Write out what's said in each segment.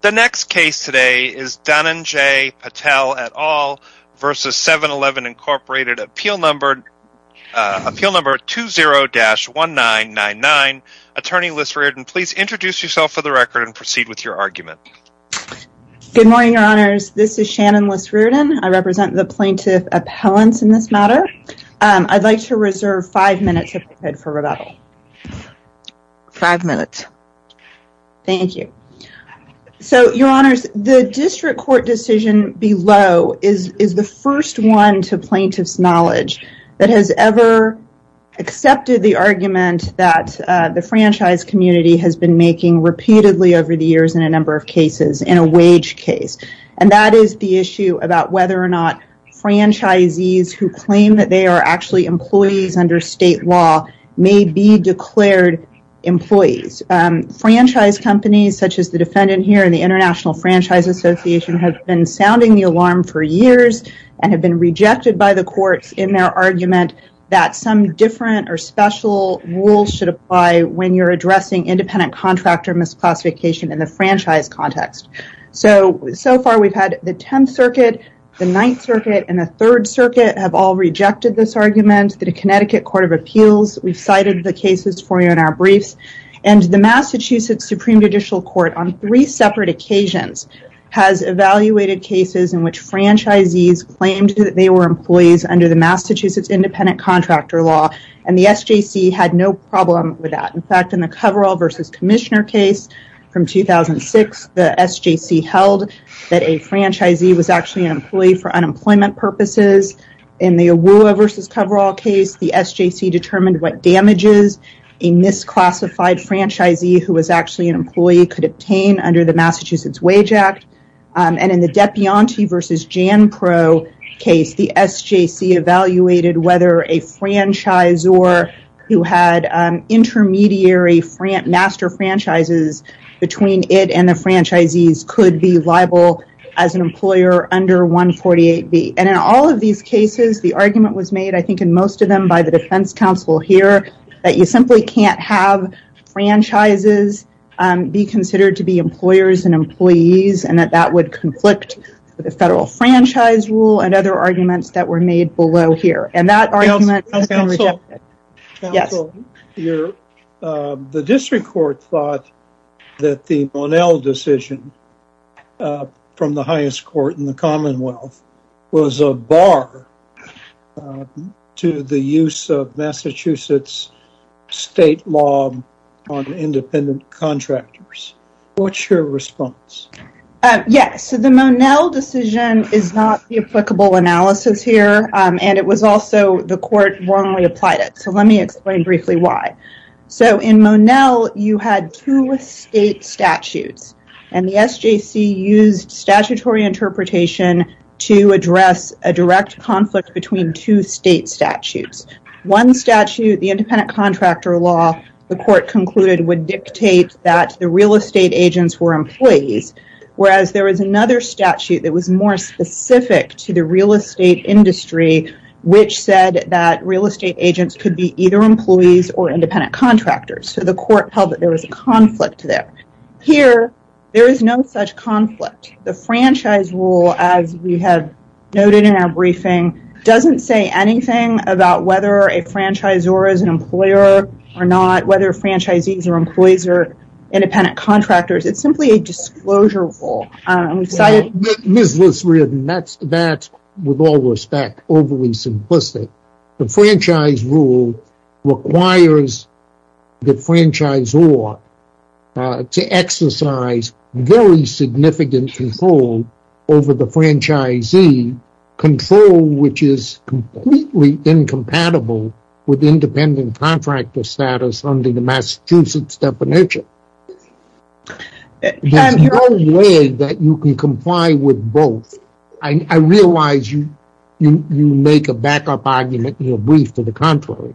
The next case today is Dhananjay Patel et al. v. 7-Eleven, Inc. Appeal Number 20-1999. Attorney Liz Riordan, please introduce yourself for the record and proceed with your argument. Good morning, Your Honors. This is Shannon Liz Riordan. I represent the Plaintiff Appellants in this matter. I'd like to reserve five minutes of your time for rebuttal. Five minutes. Thank you. Your Honors, the District Court decision below is the first one to Plaintiff's knowledge that has ever accepted the argument that the franchise community has been making repeatedly over the years in a number of cases, in a wage case. That is the issue about whether or not franchisees who claim that they are actually employees under state law may be declared employees. Franchise companies such as the defendant here and the International Franchise Association have been sounding the alarm for years and have been rejected by the courts in their argument that some different or special rules should apply when you're addressing independent contractor misclassification in the franchise context. So far, we've had the Tenth Circuit, the Ninth Circuit, and the Third Circuit have all rejected this argument. The Connecticut Court of Appeals, we've cited the cases for you in our briefs. The Massachusetts Supreme Judicial Court, on three separate occasions, has evaluated cases in which franchisees claimed that they were employees under the Massachusetts Independent Contractor Law, and the SJC had no problem with that. In fact, in the Coverall versus Commissioner case from 2006, the SJC held that a franchisee was actually an employee for unemployment purposes. In the AWUA versus Coverall case, the SJC determined what damages a misclassified franchisee who was actually an employee could obtain under the Massachusetts Wage Act. And in the Depianti versus JanPro case, the SJC evaluated whether a franchisor who had intermediary master franchises between it and the franchisees could be liable as an employer under 148B. And in all of these cases, the argument was made, I think in most of them, by the defense counsel here, that you simply can't have franchises be considered to be employers and employees, and that that would conflict with the federal franchise rule and other arguments that were made below here. And that argument has been rejected. Counsel, the district court thought that the Monel decision from the highest court in the state was a bar to the use of Massachusetts state law on independent contractors. What's your response? Yes. So the Monel decision is not the applicable analysis here, and it was also the court wrongly applied it. So let me explain briefly why. So in Monel, you had two state statutes, and the SJC used statutory interpretation to address a direct conflict between two state statutes. One statute, the independent contractor law, the court concluded would dictate that the real estate agents were employees, whereas there was another statute that was more specific to the real estate industry, which said that real estate agents could be either employees or independent contractors. So the court held that there was a conflict there. Here, there is no such conflict. The franchise rule, as we have noted in our briefing, doesn't say anything about whether a franchisor is an employer or not, whether franchisees are employees or independent contractors. It's simply a disclosure rule. And we've cited- Ms. Liss-Ridden, that's, with all respect, overly simplistic. The franchise rule requires the franchisor to exercise very significant control over the franchisee, control which is completely incompatible with independent contractor status under the Massachusetts definition. There's no way that you can comply with both. I realize you make a backup argument in your brief to the contrary,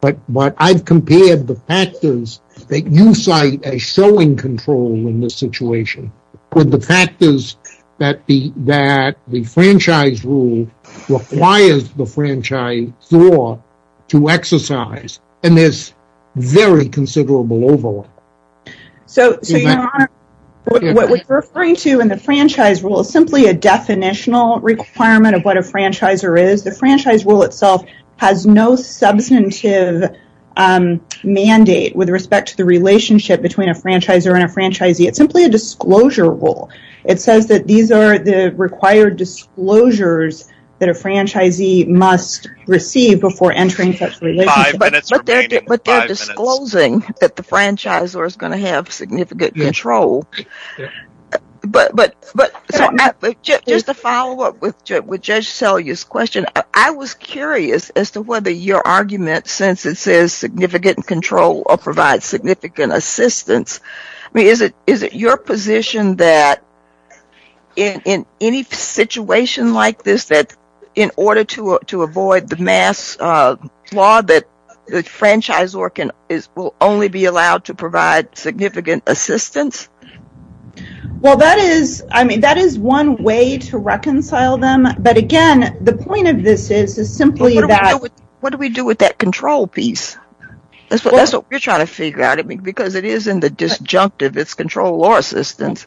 but I've compared the factors that you cite as showing control in this situation with the factors that the franchise rule requires the franchisor to exercise, and there's very considerable overlap. So, Your Honor, what we're referring to in the franchise rule is simply a definitional requirement of what a franchisor is. The franchise rule itself has no substantive mandate with respect to the relationship between a franchisor and a franchisee. It's simply a disclosure rule. It says that these are the required disclosures that a franchisee must receive before entering such a relationship. Five minutes remaining. Five minutes. So, it's not disclosing that the franchisor is going to have significant control. But just to follow up with Judge Selye's question, I was curious as to whether your argument since it says significant control or provides significant assistance, I mean, is it your position that in any situation like this that in order to avoid the mass law that the franchisor will only be allowed to provide significant assistance? Well, that is, I mean, that is one way to reconcile them. But again, the point of this is simply that... What do we do with that control piece? That's what we're trying to figure out. Because it is in the disjunctive. It's control or assistance.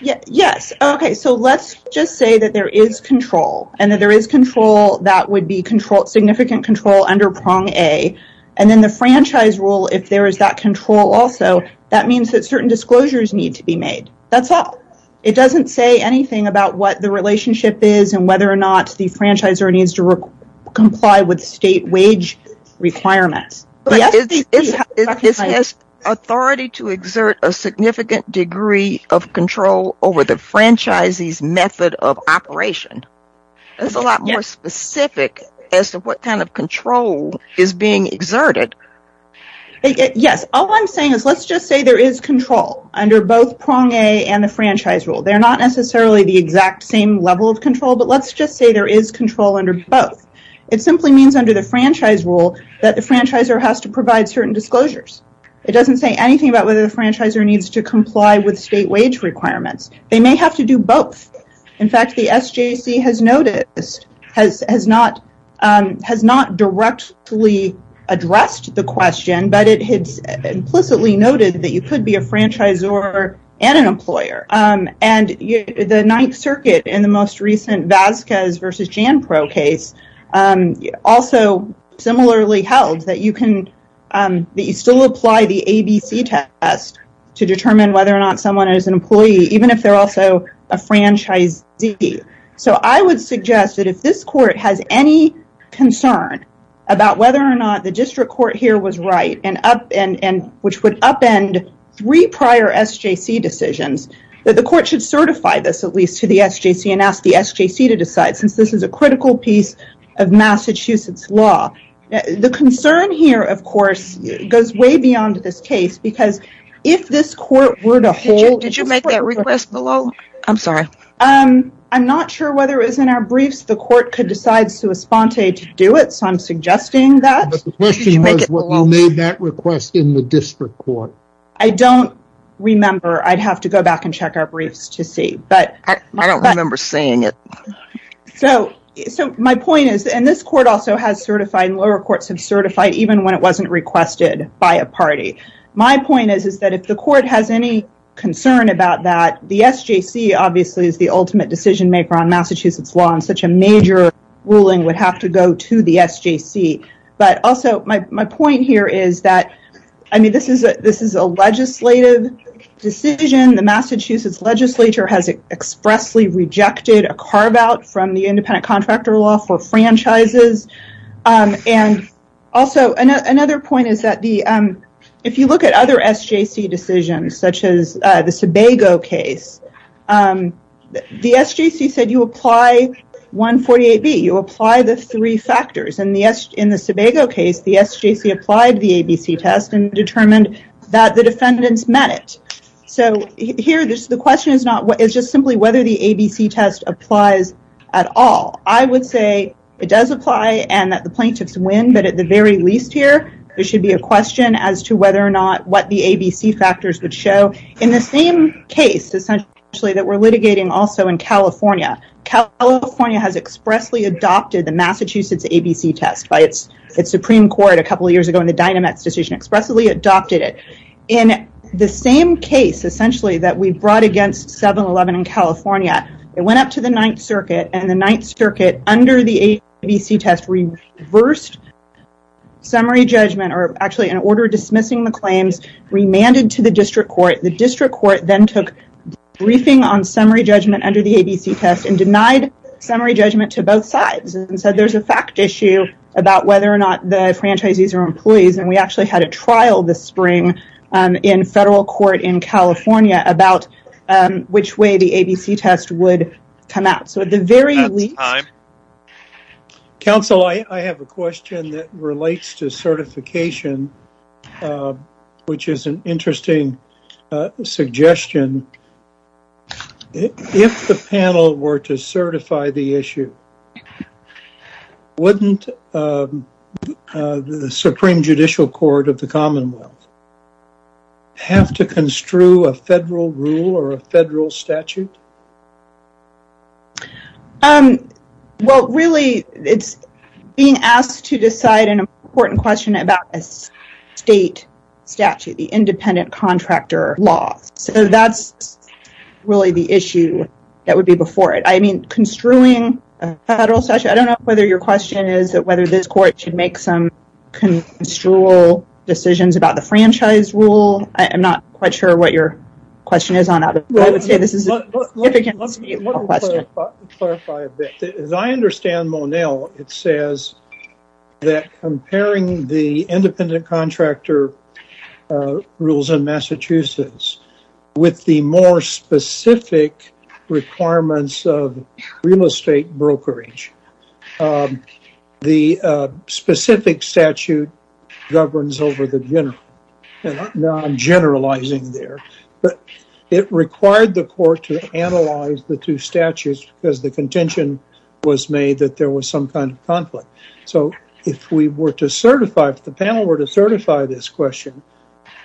Yes. Okay. So, let's just say that there is control and that there is control that would be significant control under prong A. And then the franchise rule, if there is that control also, that means that certain disclosures need to be made. That's all. It doesn't say anything about what the relationship is and whether or not the franchisor needs to comply with state wage requirements. This has authority to exert a significant degree of control over the franchisee's method of operation. It's a lot more specific as to what kind of control is being exerted. Yes. All I'm saying is, let's just say there is control under both prong A and the franchise rule. They're not necessarily the exact same level of control, but let's just say there is control under both. It simply means under the franchise rule that the franchisor has to provide certain disclosures. It doesn't say anything about whether the franchisor needs to comply with state wage requirements. They may have to do both. In fact, the SJC has noticed, has not directly addressed the question, but it has implicitly noted that you could be a franchisor and an employer. The Ninth Circuit in the most recent Vasquez versus Janpro case also similarly held that you can still apply the ABC test to determine whether or not someone is an employee, even if they're also a franchisee. I would suggest that if this court has any concern about whether or not the district court here was right, which would upend three prior SJC decisions, that the court should certify this at least to the SJC and ask the SJC to decide since this is a critical piece of Massachusetts law. The concern here, of course, goes way beyond this case because if this court were to hold I'm sorry. I'm not sure whether it was in our briefs the court could decide sui sponte to do it, so I'm suggesting that. But the question was whether you made that request in the district court. I don't remember. I'd have to go back and check our briefs to see. But I don't remember saying it. So my point is, and this court also has certified and lower courts have certified even when it wasn't requested by a party. My point is that if the court has any concern about that, the SJC obviously is the ultimate decision maker on Massachusetts law and such a major ruling would have to go to the SJC. But also my point here is that this is a legislative decision. The Massachusetts legislature has expressly rejected a carve out from the independent contractor law for franchises. And also another point is that if you look at other SJC decisions such as the Sebago case, the SJC said you apply 148B. You apply the three factors. In the Sebago case, the SJC applied the ABC test and determined that the defendants met it. So here the question is just simply whether the ABC test applies at all. I would say it does apply and that the plaintiffs win. But at the very least here, there should be a question as to whether or not what the ABC factors would show. In the same case essentially that we're litigating also in California, California has expressly adopted the Massachusetts ABC test by its Supreme Court a couple of years ago in the DynaMats decision expressly adopted it. In the same case essentially that we brought against 7-11 in California, it went up to the 9th Circuit and the 9th Circuit under the ABC test reversed summary judgment or actually in order of dismissing the claims remanded to the district court. The district court then took briefing on summary judgment under the ABC test and denied summary judgment to both sides and said there's a fact issue about whether or not the franchises are employees and we actually had a trial this spring in federal court in California about which way the ABC test would come out. So at the very least... That's time. Counsel, I have a question that relates to certification which is an interesting suggestion. If the panel were to certify the issue, wouldn't the Supreme Judicial Court of the Commonwealth have to construe a federal rule or a federal statute? Well really it's being asked to decide an important question about a state statute, the independent contractor law. So that's really the issue that would be before it. I mean construing a federal statute, I don't know whether your question is that whether this court should make some construal decisions about the franchise rule. I'm not quite sure what your question is on that, but I would say this is a significant state law question. Let me clarify a bit. As I understand, Monel, it says that comparing the independent contractor rules in Massachusetts with the more specific requirements of real estate brokerage, the specific statute governs over the general. Now I'm generalizing there, but it required the court to analyze the two statutes because the contention was made that there was some kind of conflict. So if we were to certify, if the panel were to certify this question,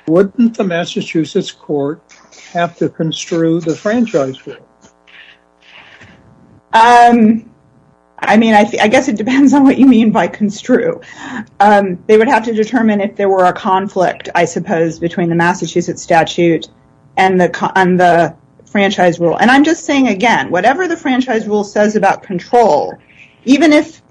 wouldn't the Massachusetts court have to construe the franchise rule? I guess it depends on what you mean by construe. They would have to determine if there were a conflict, I suppose, between the Massachusetts statute and the franchise rule. And I'm just saying, again, whatever the franchise rule says about control, even if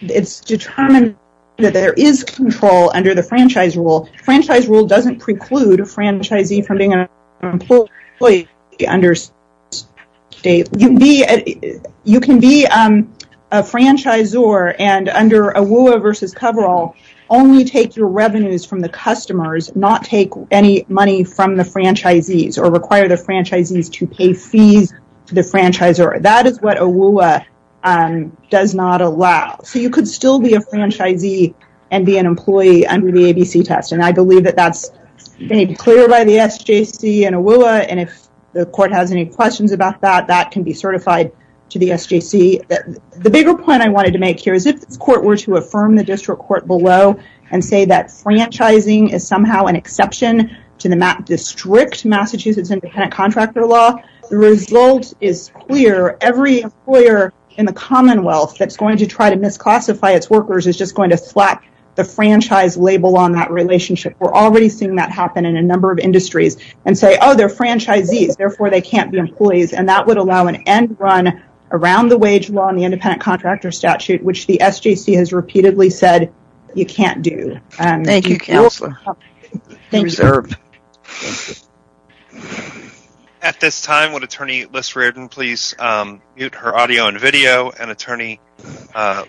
it's determined that there is control under the franchise rule, franchise rule doesn't preclude a franchisee from being an employee under state. You can be a franchisor and under AWUA versus coverall only take your revenues from the customers, not take any money from the franchisees or require the franchisees to pay fees to the franchisor. That is what AWUA does not allow. So you could still be a franchisee and be an employee under the ABC test. And I believe that that's made clear by the SJC and AWUA. And if the court has any questions about that, that can be certified to the SJC. The bigger point I wanted to make here is if the court were to affirm the district court below and say that franchising is somehow an exception to the district Massachusetts independent contractor law, the result is clear. Every employer in the Commonwealth that's going to try to misclassify its workers is just going to slack the franchise label on that relationship. We're already seeing that happen in a number of industries and say, oh, they're franchisees. Therefore, they can't be employees. And that would allow an end run around the wage law and the independent contractor statute, which the SJC has repeatedly said you can't do. Thank you, counselor. At this time, would attorney Liz Reardon please mute her audio and video and attorney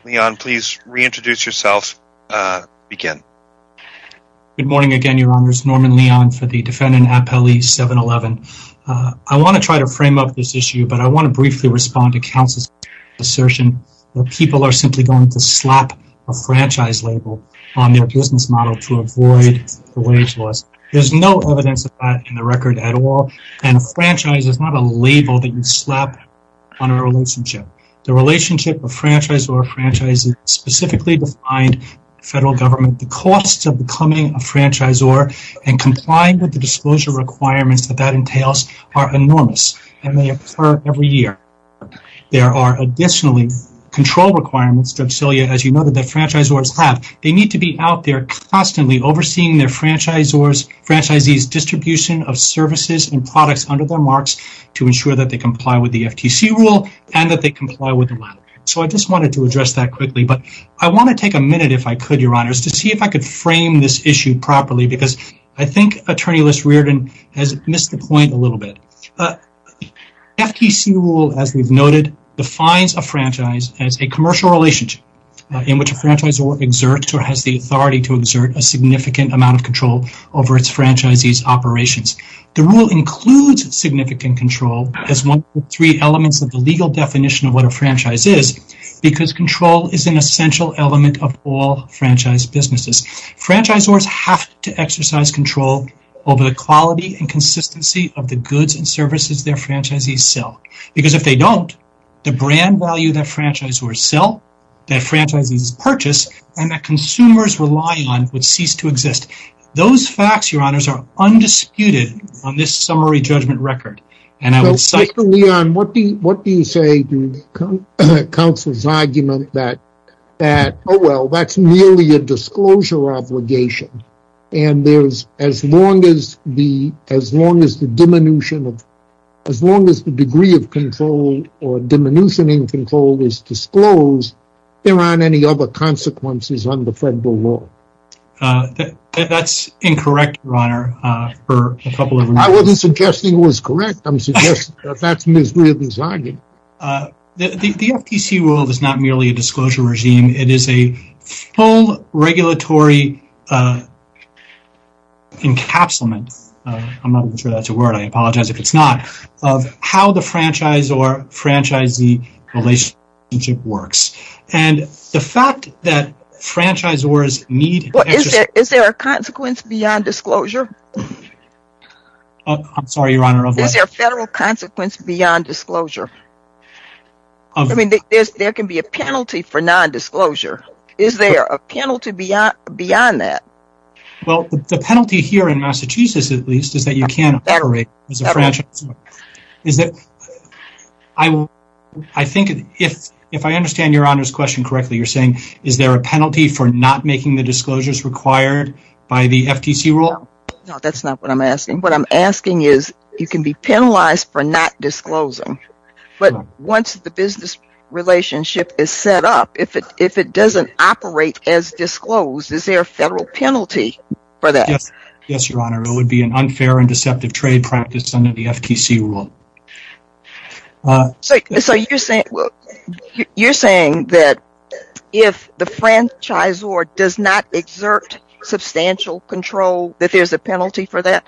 Leon, please reintroduce yourself again. Good morning again, your honors. Norman Leon for the defendant Appellee 711. I want to try to frame up this issue, but I want to briefly respond to counsel's assertion that people are simply going to slap a franchise label on their business model to avoid the wage laws. There's no evidence of that in the record at all. And a franchise is not a label that you slap on a relationship. The relationship of franchisor franchises specifically defined federal government, the cost of becoming a franchisor and complying with the disclosure requirements that that entails are enormous and they occur every year. There are additionally control requirements, drug cilia, as you know, that the franchisors have. They need to be out there constantly overseeing their franchisors, franchisees distribution of services and products under their marks to ensure that they comply with the FTC rule and that they comply with the law. So I just wanted to address that quickly. But I want to take a minute if I could, your honors, to see if I could frame this issue properly, because I think Attorney List Reardon has missed the point a little bit. FTC rule, as we've noted, defines a franchise as a commercial relationship in which a franchisor exerts or has the authority to exert a significant amount of control over its franchisees operations. The rule includes significant control as one of the three elements of the legal definition of what a franchise is, because control is an essential element of all franchise businesses. Franchisors have to exercise control over the quality and consistency of the goods and services their franchisees sell. Because if they don't, the brand value that franchisors sell, that franchises purchase and that consumers rely on would cease to exist. Those facts, your honors, are undisputed on this summary judgment record. And I would cite... So, Mr. Leon, what do you say to counsel's argument that, oh well, that's merely a disclosure obligation, and as long as the degree of control or diminution in control is disclosed, there aren't any other consequences under federal law? That's incorrect, your honor, for a couple of reasons. I wasn't suggesting it was correct. I'm suggesting that that's misread his argument. The FTC rule is not merely a disclosure regime. It is a full regulatory encapsulment, I'm not even sure that's a word, I apologize if it's not, of how the franchisor-franchisee relationship works. And the fact that franchisors need... Is there a consequence beyond disclosure? I'm sorry, your honor, of what? Is there a federal consequence beyond disclosure? There can be a penalty for non-disclosure. Is there a penalty beyond that? Well, the penalty here in Massachusetts, at least, is that you can't operate as a correctly, you're saying, is there a penalty for not making the disclosures required by the FTC rule? No, that's not what I'm asking. What I'm asking is, you can be penalized for not disclosing, but once the business relationship is set up, if it doesn't operate as disclosed, is there a federal penalty for that? Yes, your honor, it would be an unfair and deceptive trade practice under the FTC rule. So, you're saying that if the franchisor does not exert substantial control, that there's a penalty for that?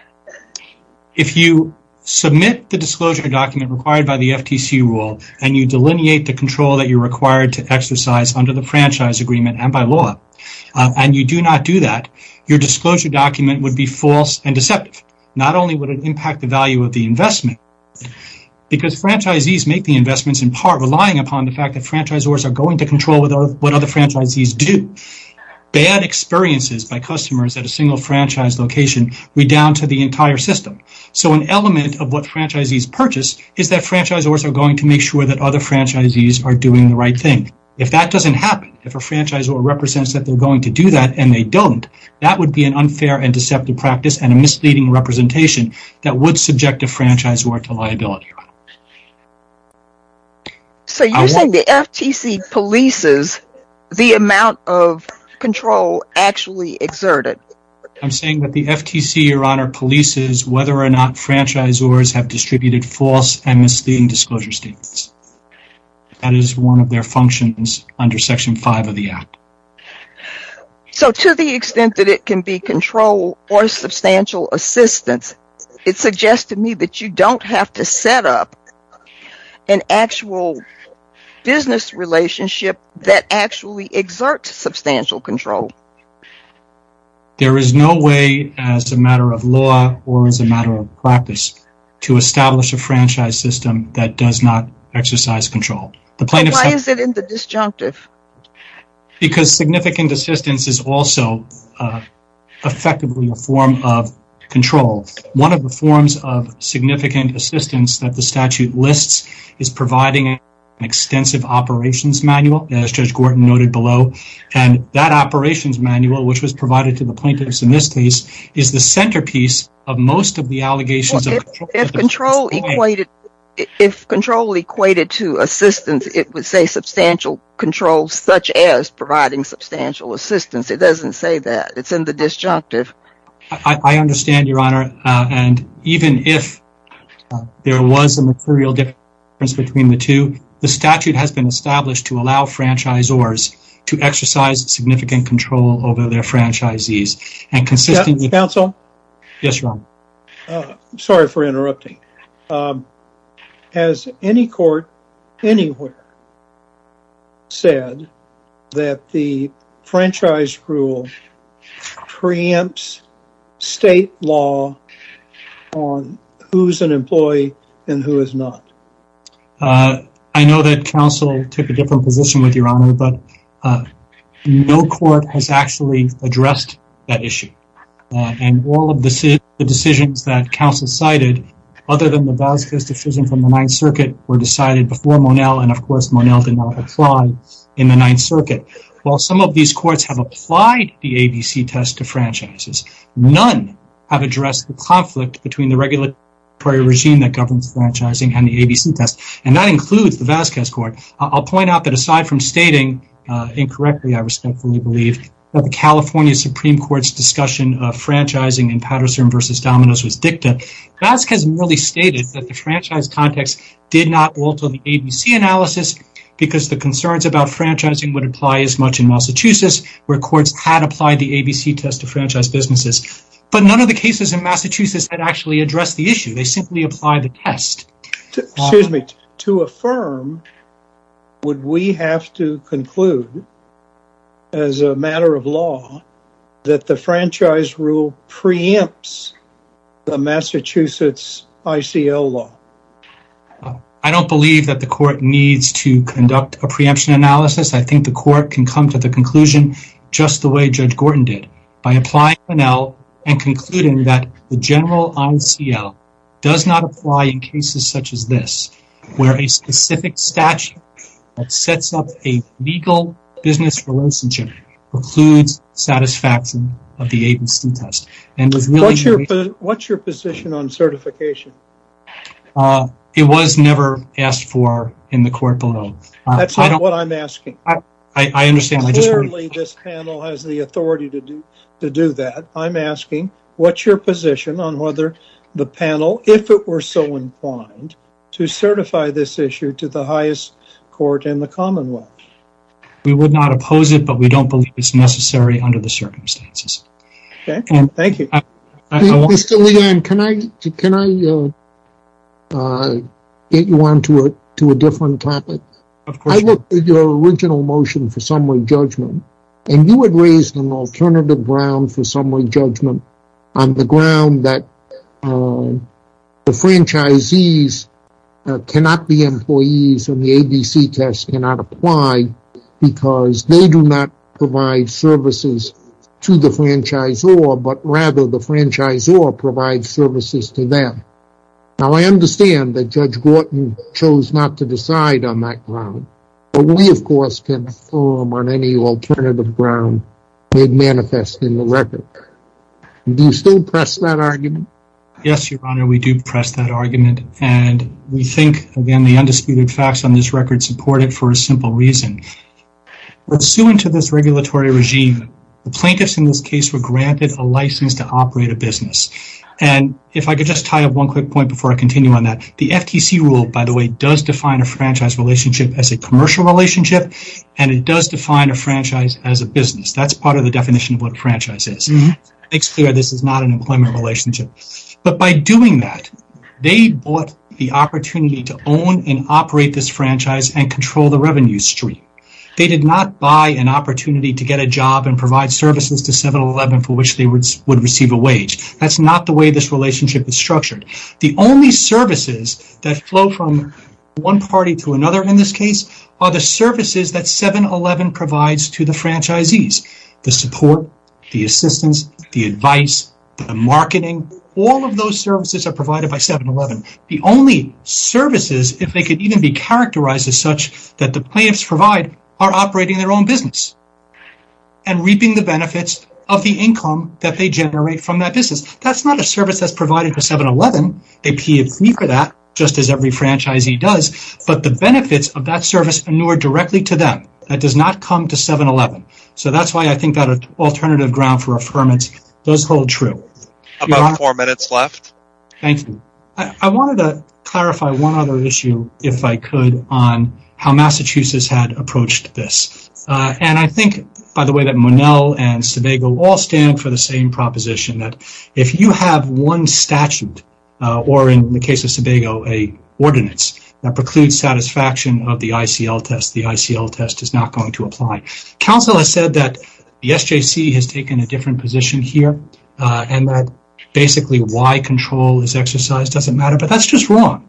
If you submit the disclosure document required by the FTC rule, and you delineate the control that you're required to exercise under the franchise agreement and by law, and you do not do that, your disclosure document would be false and deceptive. Not only would it impact the value of the investment, because franchisees make the investments in part relying upon the fact that franchisors are going to control what other franchisees do. Bad experiences by customers at a single franchise location redound to the entire system. So, an element of what franchisees purchase is that franchisors are going to make sure that other franchisees are doing the right thing. If that doesn't happen, if a franchisor represents that they're going to do that and they don't, that would be an unfair and deceptive practice and a misleading representation that would subject a franchisor to liability. So, you're saying the FTC polices the amount of control actually exerted? I'm saying that the FTC, Your Honor, polices whether or not franchisors have distributed false and misleading disclosure statements. That is one of their functions under Section 5 of the Act. So, to the extent that it can be control or substantial assistance, it suggests to me that you don't have to set up an actual business relationship that actually exerts substantial control. There is no way as a matter of law or as a matter of practice to establish a franchise system that does not exercise control. So, why is it in the disjunctive? Because significant assistance is also effectively a form of control. One of the forms of significant assistance that the statute lists is providing an extensive operations manual, as Judge Gorton noted below, and that operations manual, which was provided to the plaintiffs in this case, is the centerpiece of most of the allegations. If control equated to assistance, it would say substantial control, such as providing substantial assistance. It doesn't say that. It's in the disjunctive. I understand, Your Honor, and even if there was a material difference between the two, the statute has been established to allow franchisors to exercise significant control over their franchisees. Counsel? Yes, Your Honor. Sorry for interrupting. Has any court anywhere said that the franchise rule preempts state law on who's an employee and who is not? I know that counsel took a different position with you, Your Honor, but no court has actually addressed that issue. And all of the decisions that counsel cited, other than the Vasquez decision from the Ninth Circuit, were decided before Monell, and of course, Monell did not apply in the Ninth Circuit. While some of these courts have applied the ABC test to franchises, none have addressed the conflict between the regulatory regime that governs franchising and the ABC test, and that includes the Vasquez court. I'll point out that aside from stating, incorrectly I respectfully believe, that the California Supreme Court's discussion of franchising in Patterson v. Dominos was dicta, Vasquez merely stated that the franchise context did not alter the ABC analysis because the concerns about franchising would apply as much in Massachusetts, where courts had applied the ABC test to franchise businesses. But none of the cases in Massachusetts had actually addressed the issue. They simply applied the test. Excuse me. To affirm, would we have to conclude, as a matter of law, that the franchise rule preempts the Massachusetts ICL law? I don't believe that the court needs to conduct a preemption analysis. I think the court can come to the conclusion just the way Judge Gorton did, by applying ICL does not apply in cases such as this, where a specific statute that sets up a legal business relationship precludes satisfaction of the ABC test. What's your position on certification? It was never asked for in the court below. That's not what I'm asking. I understand. Clearly, this panel has the authority to do that. I'm asking, what's your position on whether the panel, if it were so inclined, to certify this issue to the highest court in the Commonwealth? We would not oppose it, but we don't believe it's necessary under the circumstances. Thank you. Mr. Leon, can I get you on to a different topic? I looked at your original motion for summary judgment, and you had raised an alternative ground for summary judgment on the ground that the franchisees cannot be employees and the ABC test cannot apply because they do not provide services to the franchisor, but rather the franchisor provides services to them. Now, I understand that Judge Gorton chose not to decide on that ground, but we, of course, can form on any alternative ground that manifests in the record. Do you still press that argument? Yes, Your Honor. We do press that argument, and we think, again, the undisputed facts on this record support it for a simple reason. Pursuant to this regulatory regime, the plaintiffs in this case were granted a license to operate a business. If I could just tie up one quick point before I continue on that, the FTC rule, by the way, does define a franchise relationship as a commercial relationship, and it does define a franchise as a business. That's part of the definition of what a franchise is. It makes clear this is not an employment relationship. But by doing that, they bought the opportunity to own and operate this franchise and control the revenue stream. They did not buy an opportunity to get a job and provide services to 7-Eleven for which That's not the way this relationship is structured. The only services that flow from one party to another in this case are the services that 7-Eleven provides to the franchisees. The support, the assistance, the advice, the marketing, all of those services are provided by 7-Eleven. The only services, if they could even be characterized as such, that the plaintiffs provide are operating their own business and reaping the benefits of the income that they generate from that business. That's not a service that's provided to 7-Eleven. They pay a fee for that, just as every franchisee does. But the benefits of that service inure directly to them. That does not come to 7-Eleven. So that's why I think that alternative ground for affirmance does hold true. About four minutes left. Thank you. I wanted to clarify one other issue, if I could, on how Massachusetts had approached this. And I think, by the way, that Monell and Sebago all stand for the same proposition that if you have one statute, or in the case of Sebago, a ordinance that precludes satisfaction of the ICL test, the ICL test is not going to apply. Counsel has said that the SJC has taken a different position here and that basically why control is exercised doesn't matter, but that's just wrong.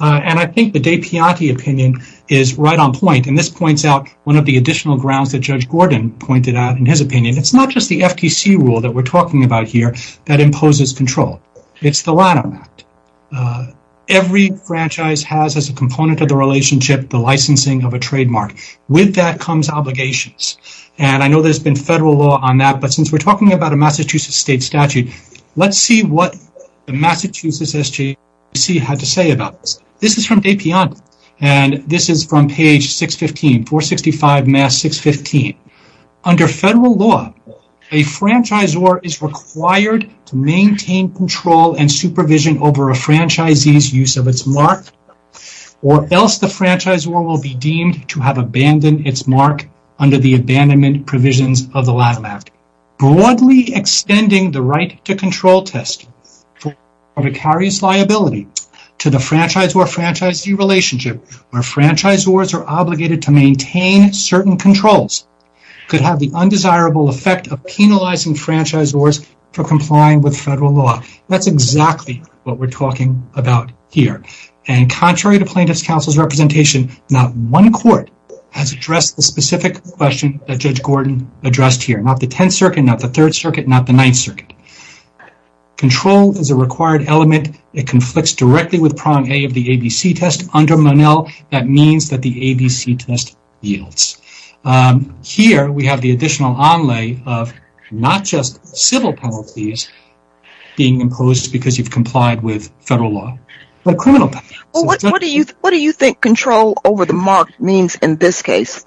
And I think the De Pianti opinion is right on point, and this points out one of the additional grounds that Judge Gordon pointed out in his opinion. It's not just the FTC rule that we're talking about here that imposes control. It's the Lanham Act. Every franchise has as a component of the relationship the licensing of a trademark. With that comes obligations. And I know there's been federal law on that, but since we're talking about a Massachusetts state statute, let's see what the Massachusetts SJC had to say about this. This is from De Pianti, and this is from page 615, 465 Mass 615. Under federal law, a franchisor is required to maintain control and supervision over a franchisee's use of its mark or else the franchisor will be deemed to have abandoned its mark under the abandonment provisions of the Lanham Act. Broadly extending the right to control test for vicarious liability to the franchisor-franchisee relationship where franchisors are obligated to maintain certain controls could have the undesirable effect of penalizing franchisors for complying with federal law. That's exactly what we're talking about here. And contrary to Plaintiff's Counsel's representation, not one court has addressed the specific question that Judge Gordon addressed here. Not the 10th Circuit, not the 3rd Circuit, not the 9th Circuit. Control is a required element. It conflicts directly with prong A of the ABC test. Under Monell, that means that the ABC test yields. Here we have the additional onlay of not just civil penalties being imposed because you've complied with federal law, but criminal penalties. What do you think control over the mark means in this case?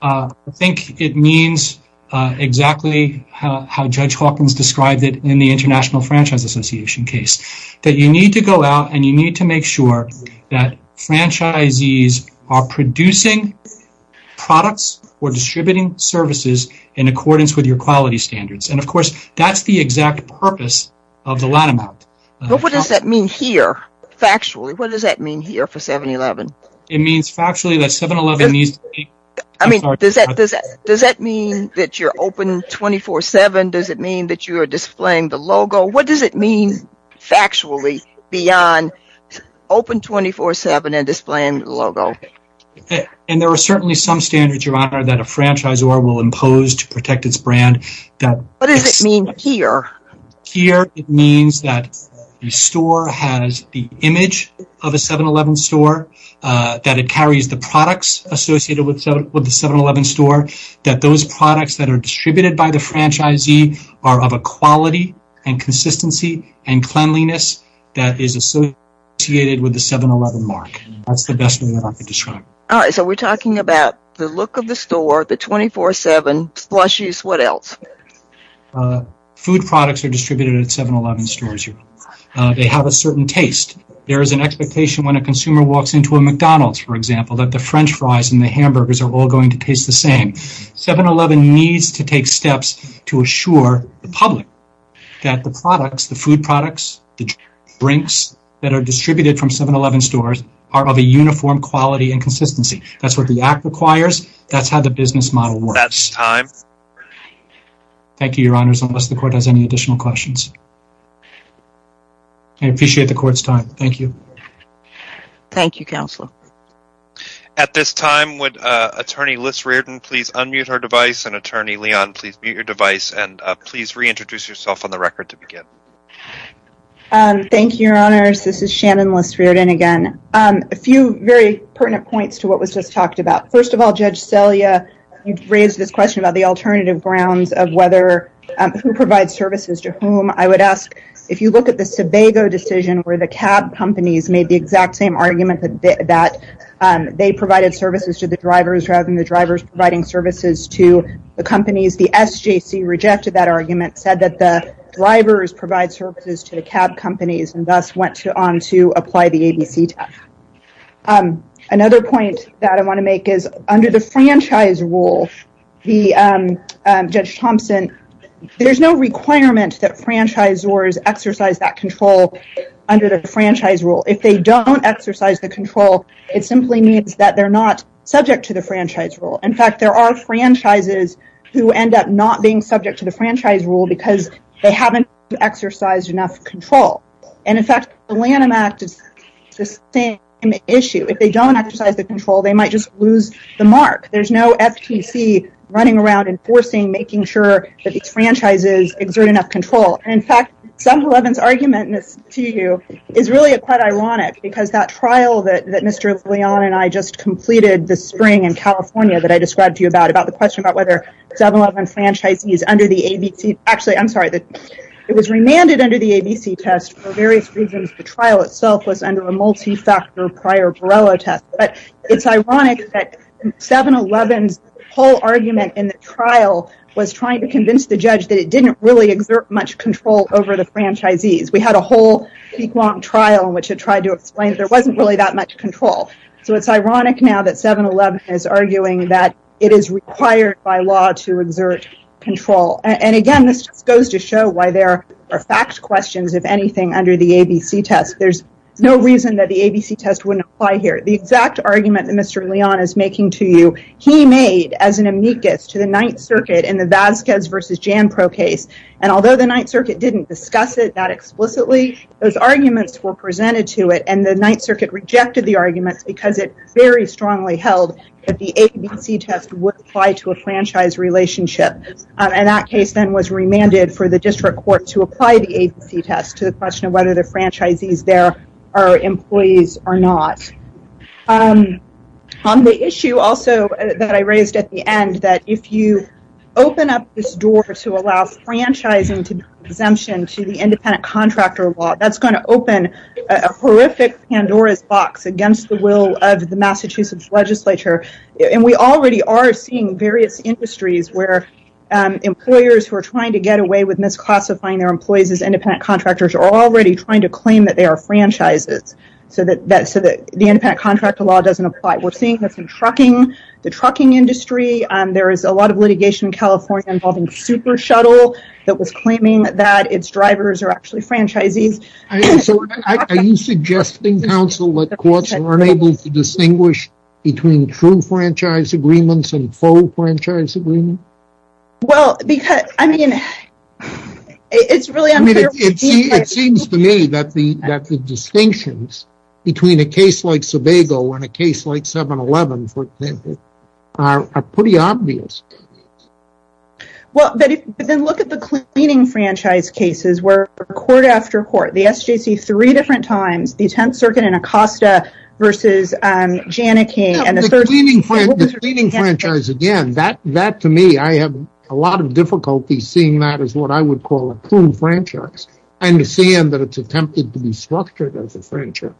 I think it means exactly how Judge Hawkins described it in the International Franchise Association case. That you need to go out and you need to make sure that franchisees are producing products or distributing services in accordance with your quality standards. And of course, that's the exact purpose of the lat amount. But what does that mean here, factually? What does that mean here for 7-Eleven? It means factually that 7-Eleven needs... I mean, does that mean that you're open 24-7? Does it mean that you are displaying the logo? What does it mean factually beyond open 24-7 and displaying the logo? And there are certainly some standards, Your Honor, that a franchisor will impose to protect its brand. What does it mean here? Here it means that the store has the image of a 7-Eleven store, that it carries the products associated with the 7-Eleven store, that those products that are distributed by the franchisee are of a quality and consistency and cleanliness that is associated with the 7-Eleven mark. That's the best way that I can describe it. All right. So we're talking about the look of the store, the 24-7, slushies, what else? Food products are distributed at 7-Eleven stores, Your Honor. They have a certain taste. There is an expectation when a consumer walks into a McDonald's, for example, that the french fries and the hamburgers are all going to taste the same. 7-Eleven needs to take steps to assure the public that the products, the food products, the drinks that are distributed from 7-Eleven stores are of a uniform quality and consistency. That's what the Act requires. That's how the business model works. That's time. Thank you, Your Honors, unless the Court has any additional questions. I appreciate the Court's time. Thank you. Thank you, Counsel. At this time, would Attorney Liss-Riordan please unmute her device and Attorney Leon, please mute your device and please reintroduce yourself on the record to begin. Thank you, Your Honors. This is Shannon Liss-Riordan again. A few very pertinent points to what was just talked about. First of all, Judge Selya, you've raised this question about the alternative grounds of whether who provides services to whom. I would ask if you look at the Sebago decision where the cab companies made the exact same that they provided services to the drivers rather than the drivers providing services to the companies. The SJC rejected that argument, said that the drivers provide services to the cab companies and thus went on to apply the ABC tax. Another point that I want to make is under the franchise rule, Judge Thompson, there's no requirement that franchisors exercise that control under the franchise rule. If they don't exercise the control, it simply means that they're not subject to the franchise rule. In fact, there are franchises who end up not being subject to the franchise rule because they haven't exercised enough control. And in fact, the Lanham Act is the same issue. If they don't exercise the control, they might just lose the mark. There's no FTC running around enforcing, making sure that these franchises exert enough control. In fact, 7-Eleven's argument to you is really quite ironic because that trial that Mr. Leon and I just completed this spring in California that I described to you about, about the question about whether 7-Eleven franchisees under the ABC, actually, I'm sorry, it was remanded under the ABC test for various reasons. The trial itself was under a multi-factor prior Borrello test. But it's ironic that 7-Eleven's whole argument in the trial was trying to convince the judge that it didn't really exert much control over the franchisees. We had a whole week-long trial in which it tried to explain there wasn't really that much control. So it's ironic now that 7-Eleven is arguing that it is required by law to exert control. And again, this just goes to show why there are fact questions, if anything, under the ABC test. There's no reason that the ABC test wouldn't apply here. The exact argument that Mr. Leon is making to you, he made as an amicus to the Ninth Circuit Borrello case. And although the Ninth Circuit didn't discuss it that explicitly, those arguments were presented to it. And the Ninth Circuit rejected the arguments because it very strongly held that the ABC test would apply to a franchise relationship. And that case then was remanded for the district court to apply the ABC test to the question of whether the franchisees there are employees or not. On the issue also that I raised at the end, that if you open up this door to allow franchising to be an exemption to the independent contractor law, that's going to open a horrific Pandora's box against the will of the Massachusetts legislature. And we already are seeing various industries where employers who are trying to get away with misclassifying their employees as independent contractors are already trying to claim that they are franchises. So that the independent contractor law doesn't apply. We're seeing this in trucking, the trucking industry. There is a lot of litigation in California involving Super Shuttle that was claiming that its drivers are actually franchisees. So are you suggesting, counsel, that courts are unable to distinguish between true franchise agreements and faux franchise agreements? Well, because, I mean, it's really unclear. It seems to me that the distinctions between a case like Sobago and a case like 7-Eleven, for example, are pretty obvious. Well, but then look at the cleaning franchise cases where court after court, the SJC three different times, the 10th Circuit in Acosta versus Janneke. The cleaning franchise, again, that to me, I have a lot of difficulty seeing that as what I would call a true franchise. I understand that it's attempted to be structured as a franchise.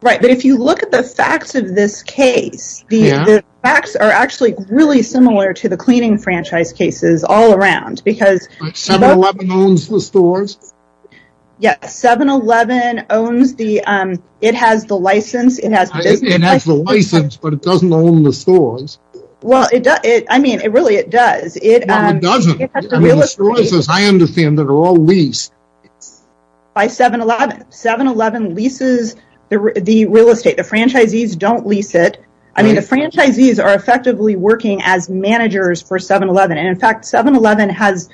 Right. But if you look at the facts of this case, the facts are actually really similar to the cleaning franchise cases all around. Because 7-Eleven owns the stores. Yes, 7-Eleven owns the, it has the license. It has the license, but it doesn't own the stores. Well, it does. I mean, it really it does. It doesn't. I understand that are all leased. By 7-Eleven. 7-Eleven leases the real estate. The franchisees don't lease it. I mean, the franchisees are effectively working as managers for 7-Eleven. About 10%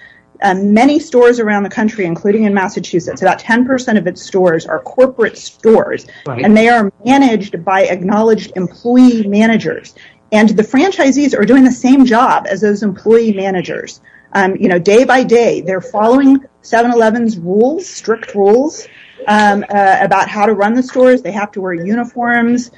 of its stores are corporate stores, and they are managed by acknowledged employee managers. The franchisees are doing the same job as those employee managers. Day by day, they're following 7-Eleven's rules, strict rules about how to run the stores. They have to wear uniforms.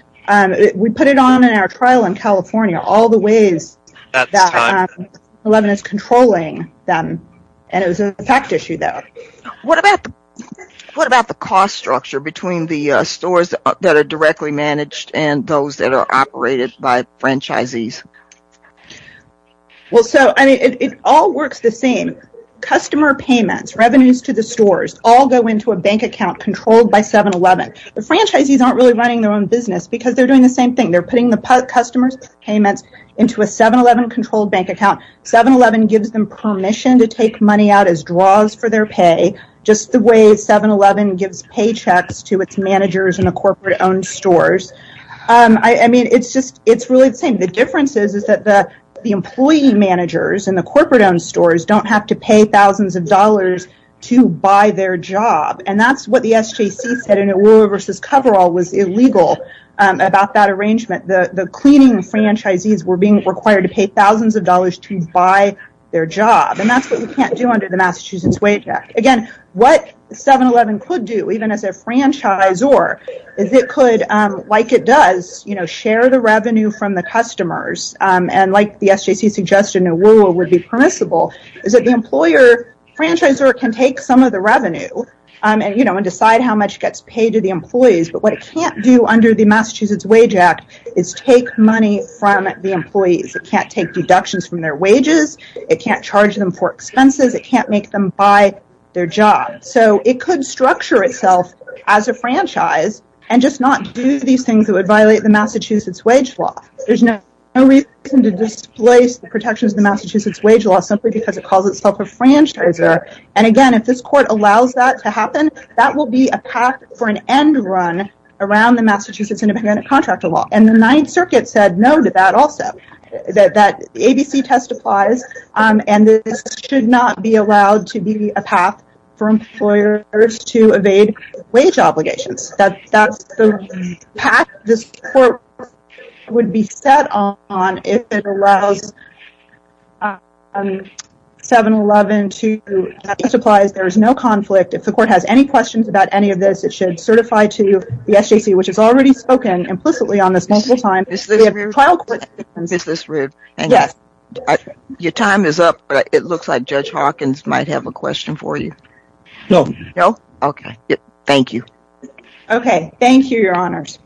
We put it on in our trial in California, all the ways that 7-Eleven is controlling them. It was a fact issue though. What about the cost structure between the stores that are directly managed and those that are operated by franchisees? Well, so, I mean, it all works the same. Customer payments, revenues to the stores, all go into a bank account controlled by 7-Eleven. The franchisees aren't really running their own business because they're doing the same thing. They're putting the customer's payments into a 7-Eleven controlled bank account. 7-Eleven gives them permission to take money out as draws for their pay, just the way 7-Eleven gives paychecks to its managers in the corporate-owned stores. I mean, it's really the same. The difference is that the employee managers in the corporate-owned stores don't have to pay thousands of dollars to buy their job. That's what the SJC said in Aurora versus Coverall was illegal about that arrangement. The cleaning franchisees were being required to pay thousands of dollars to buy their job, and that's what we can't do under the Massachusetts Wage Act. Again, what 7-Eleven could do, even as a franchisor, is it could, like it does, share the revenue from the customers, and like the SJC suggested in Aurora would be permissible, is that the employer franchisor can take some of the revenue and decide how much gets paid to the employees, but what it can't do under the Massachusetts Wage Act is take money from the employees. It can't take deductions from their wages. It can't charge them for expenses. It can't make them buy their job. So it could structure itself as a franchise and just not do these things that would violate the Massachusetts Wage Law. There's no reason to displace the protections of the Massachusetts Wage Law simply because it calls itself a franchisor, and again, if this court allows that to happen, that will be a path for an end run around the Massachusetts Independent Contractor Law, and the Ninth Circuit said no to that also, that the ABC test applies, and this should not be allowed to be a path for employers to evade wage obligations. That's the path this court would be set on if it allows 7-Eleven to, that test applies, there is no conflict, if the court has any questions about any of this, it should certify to the SJC, which has already spoken implicitly on this multiple times. Ms. Lisrud, your time is up, but it looks like Judge Hawkins might have a question for you. No. No? Okay. Thank you. Okay. Thank you, Your Honors.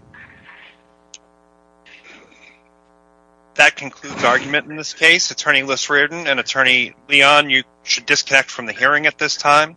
That concludes argument in this case. Attorney Lisrud and Attorney Leon, you should disconnect from the hearing at this time.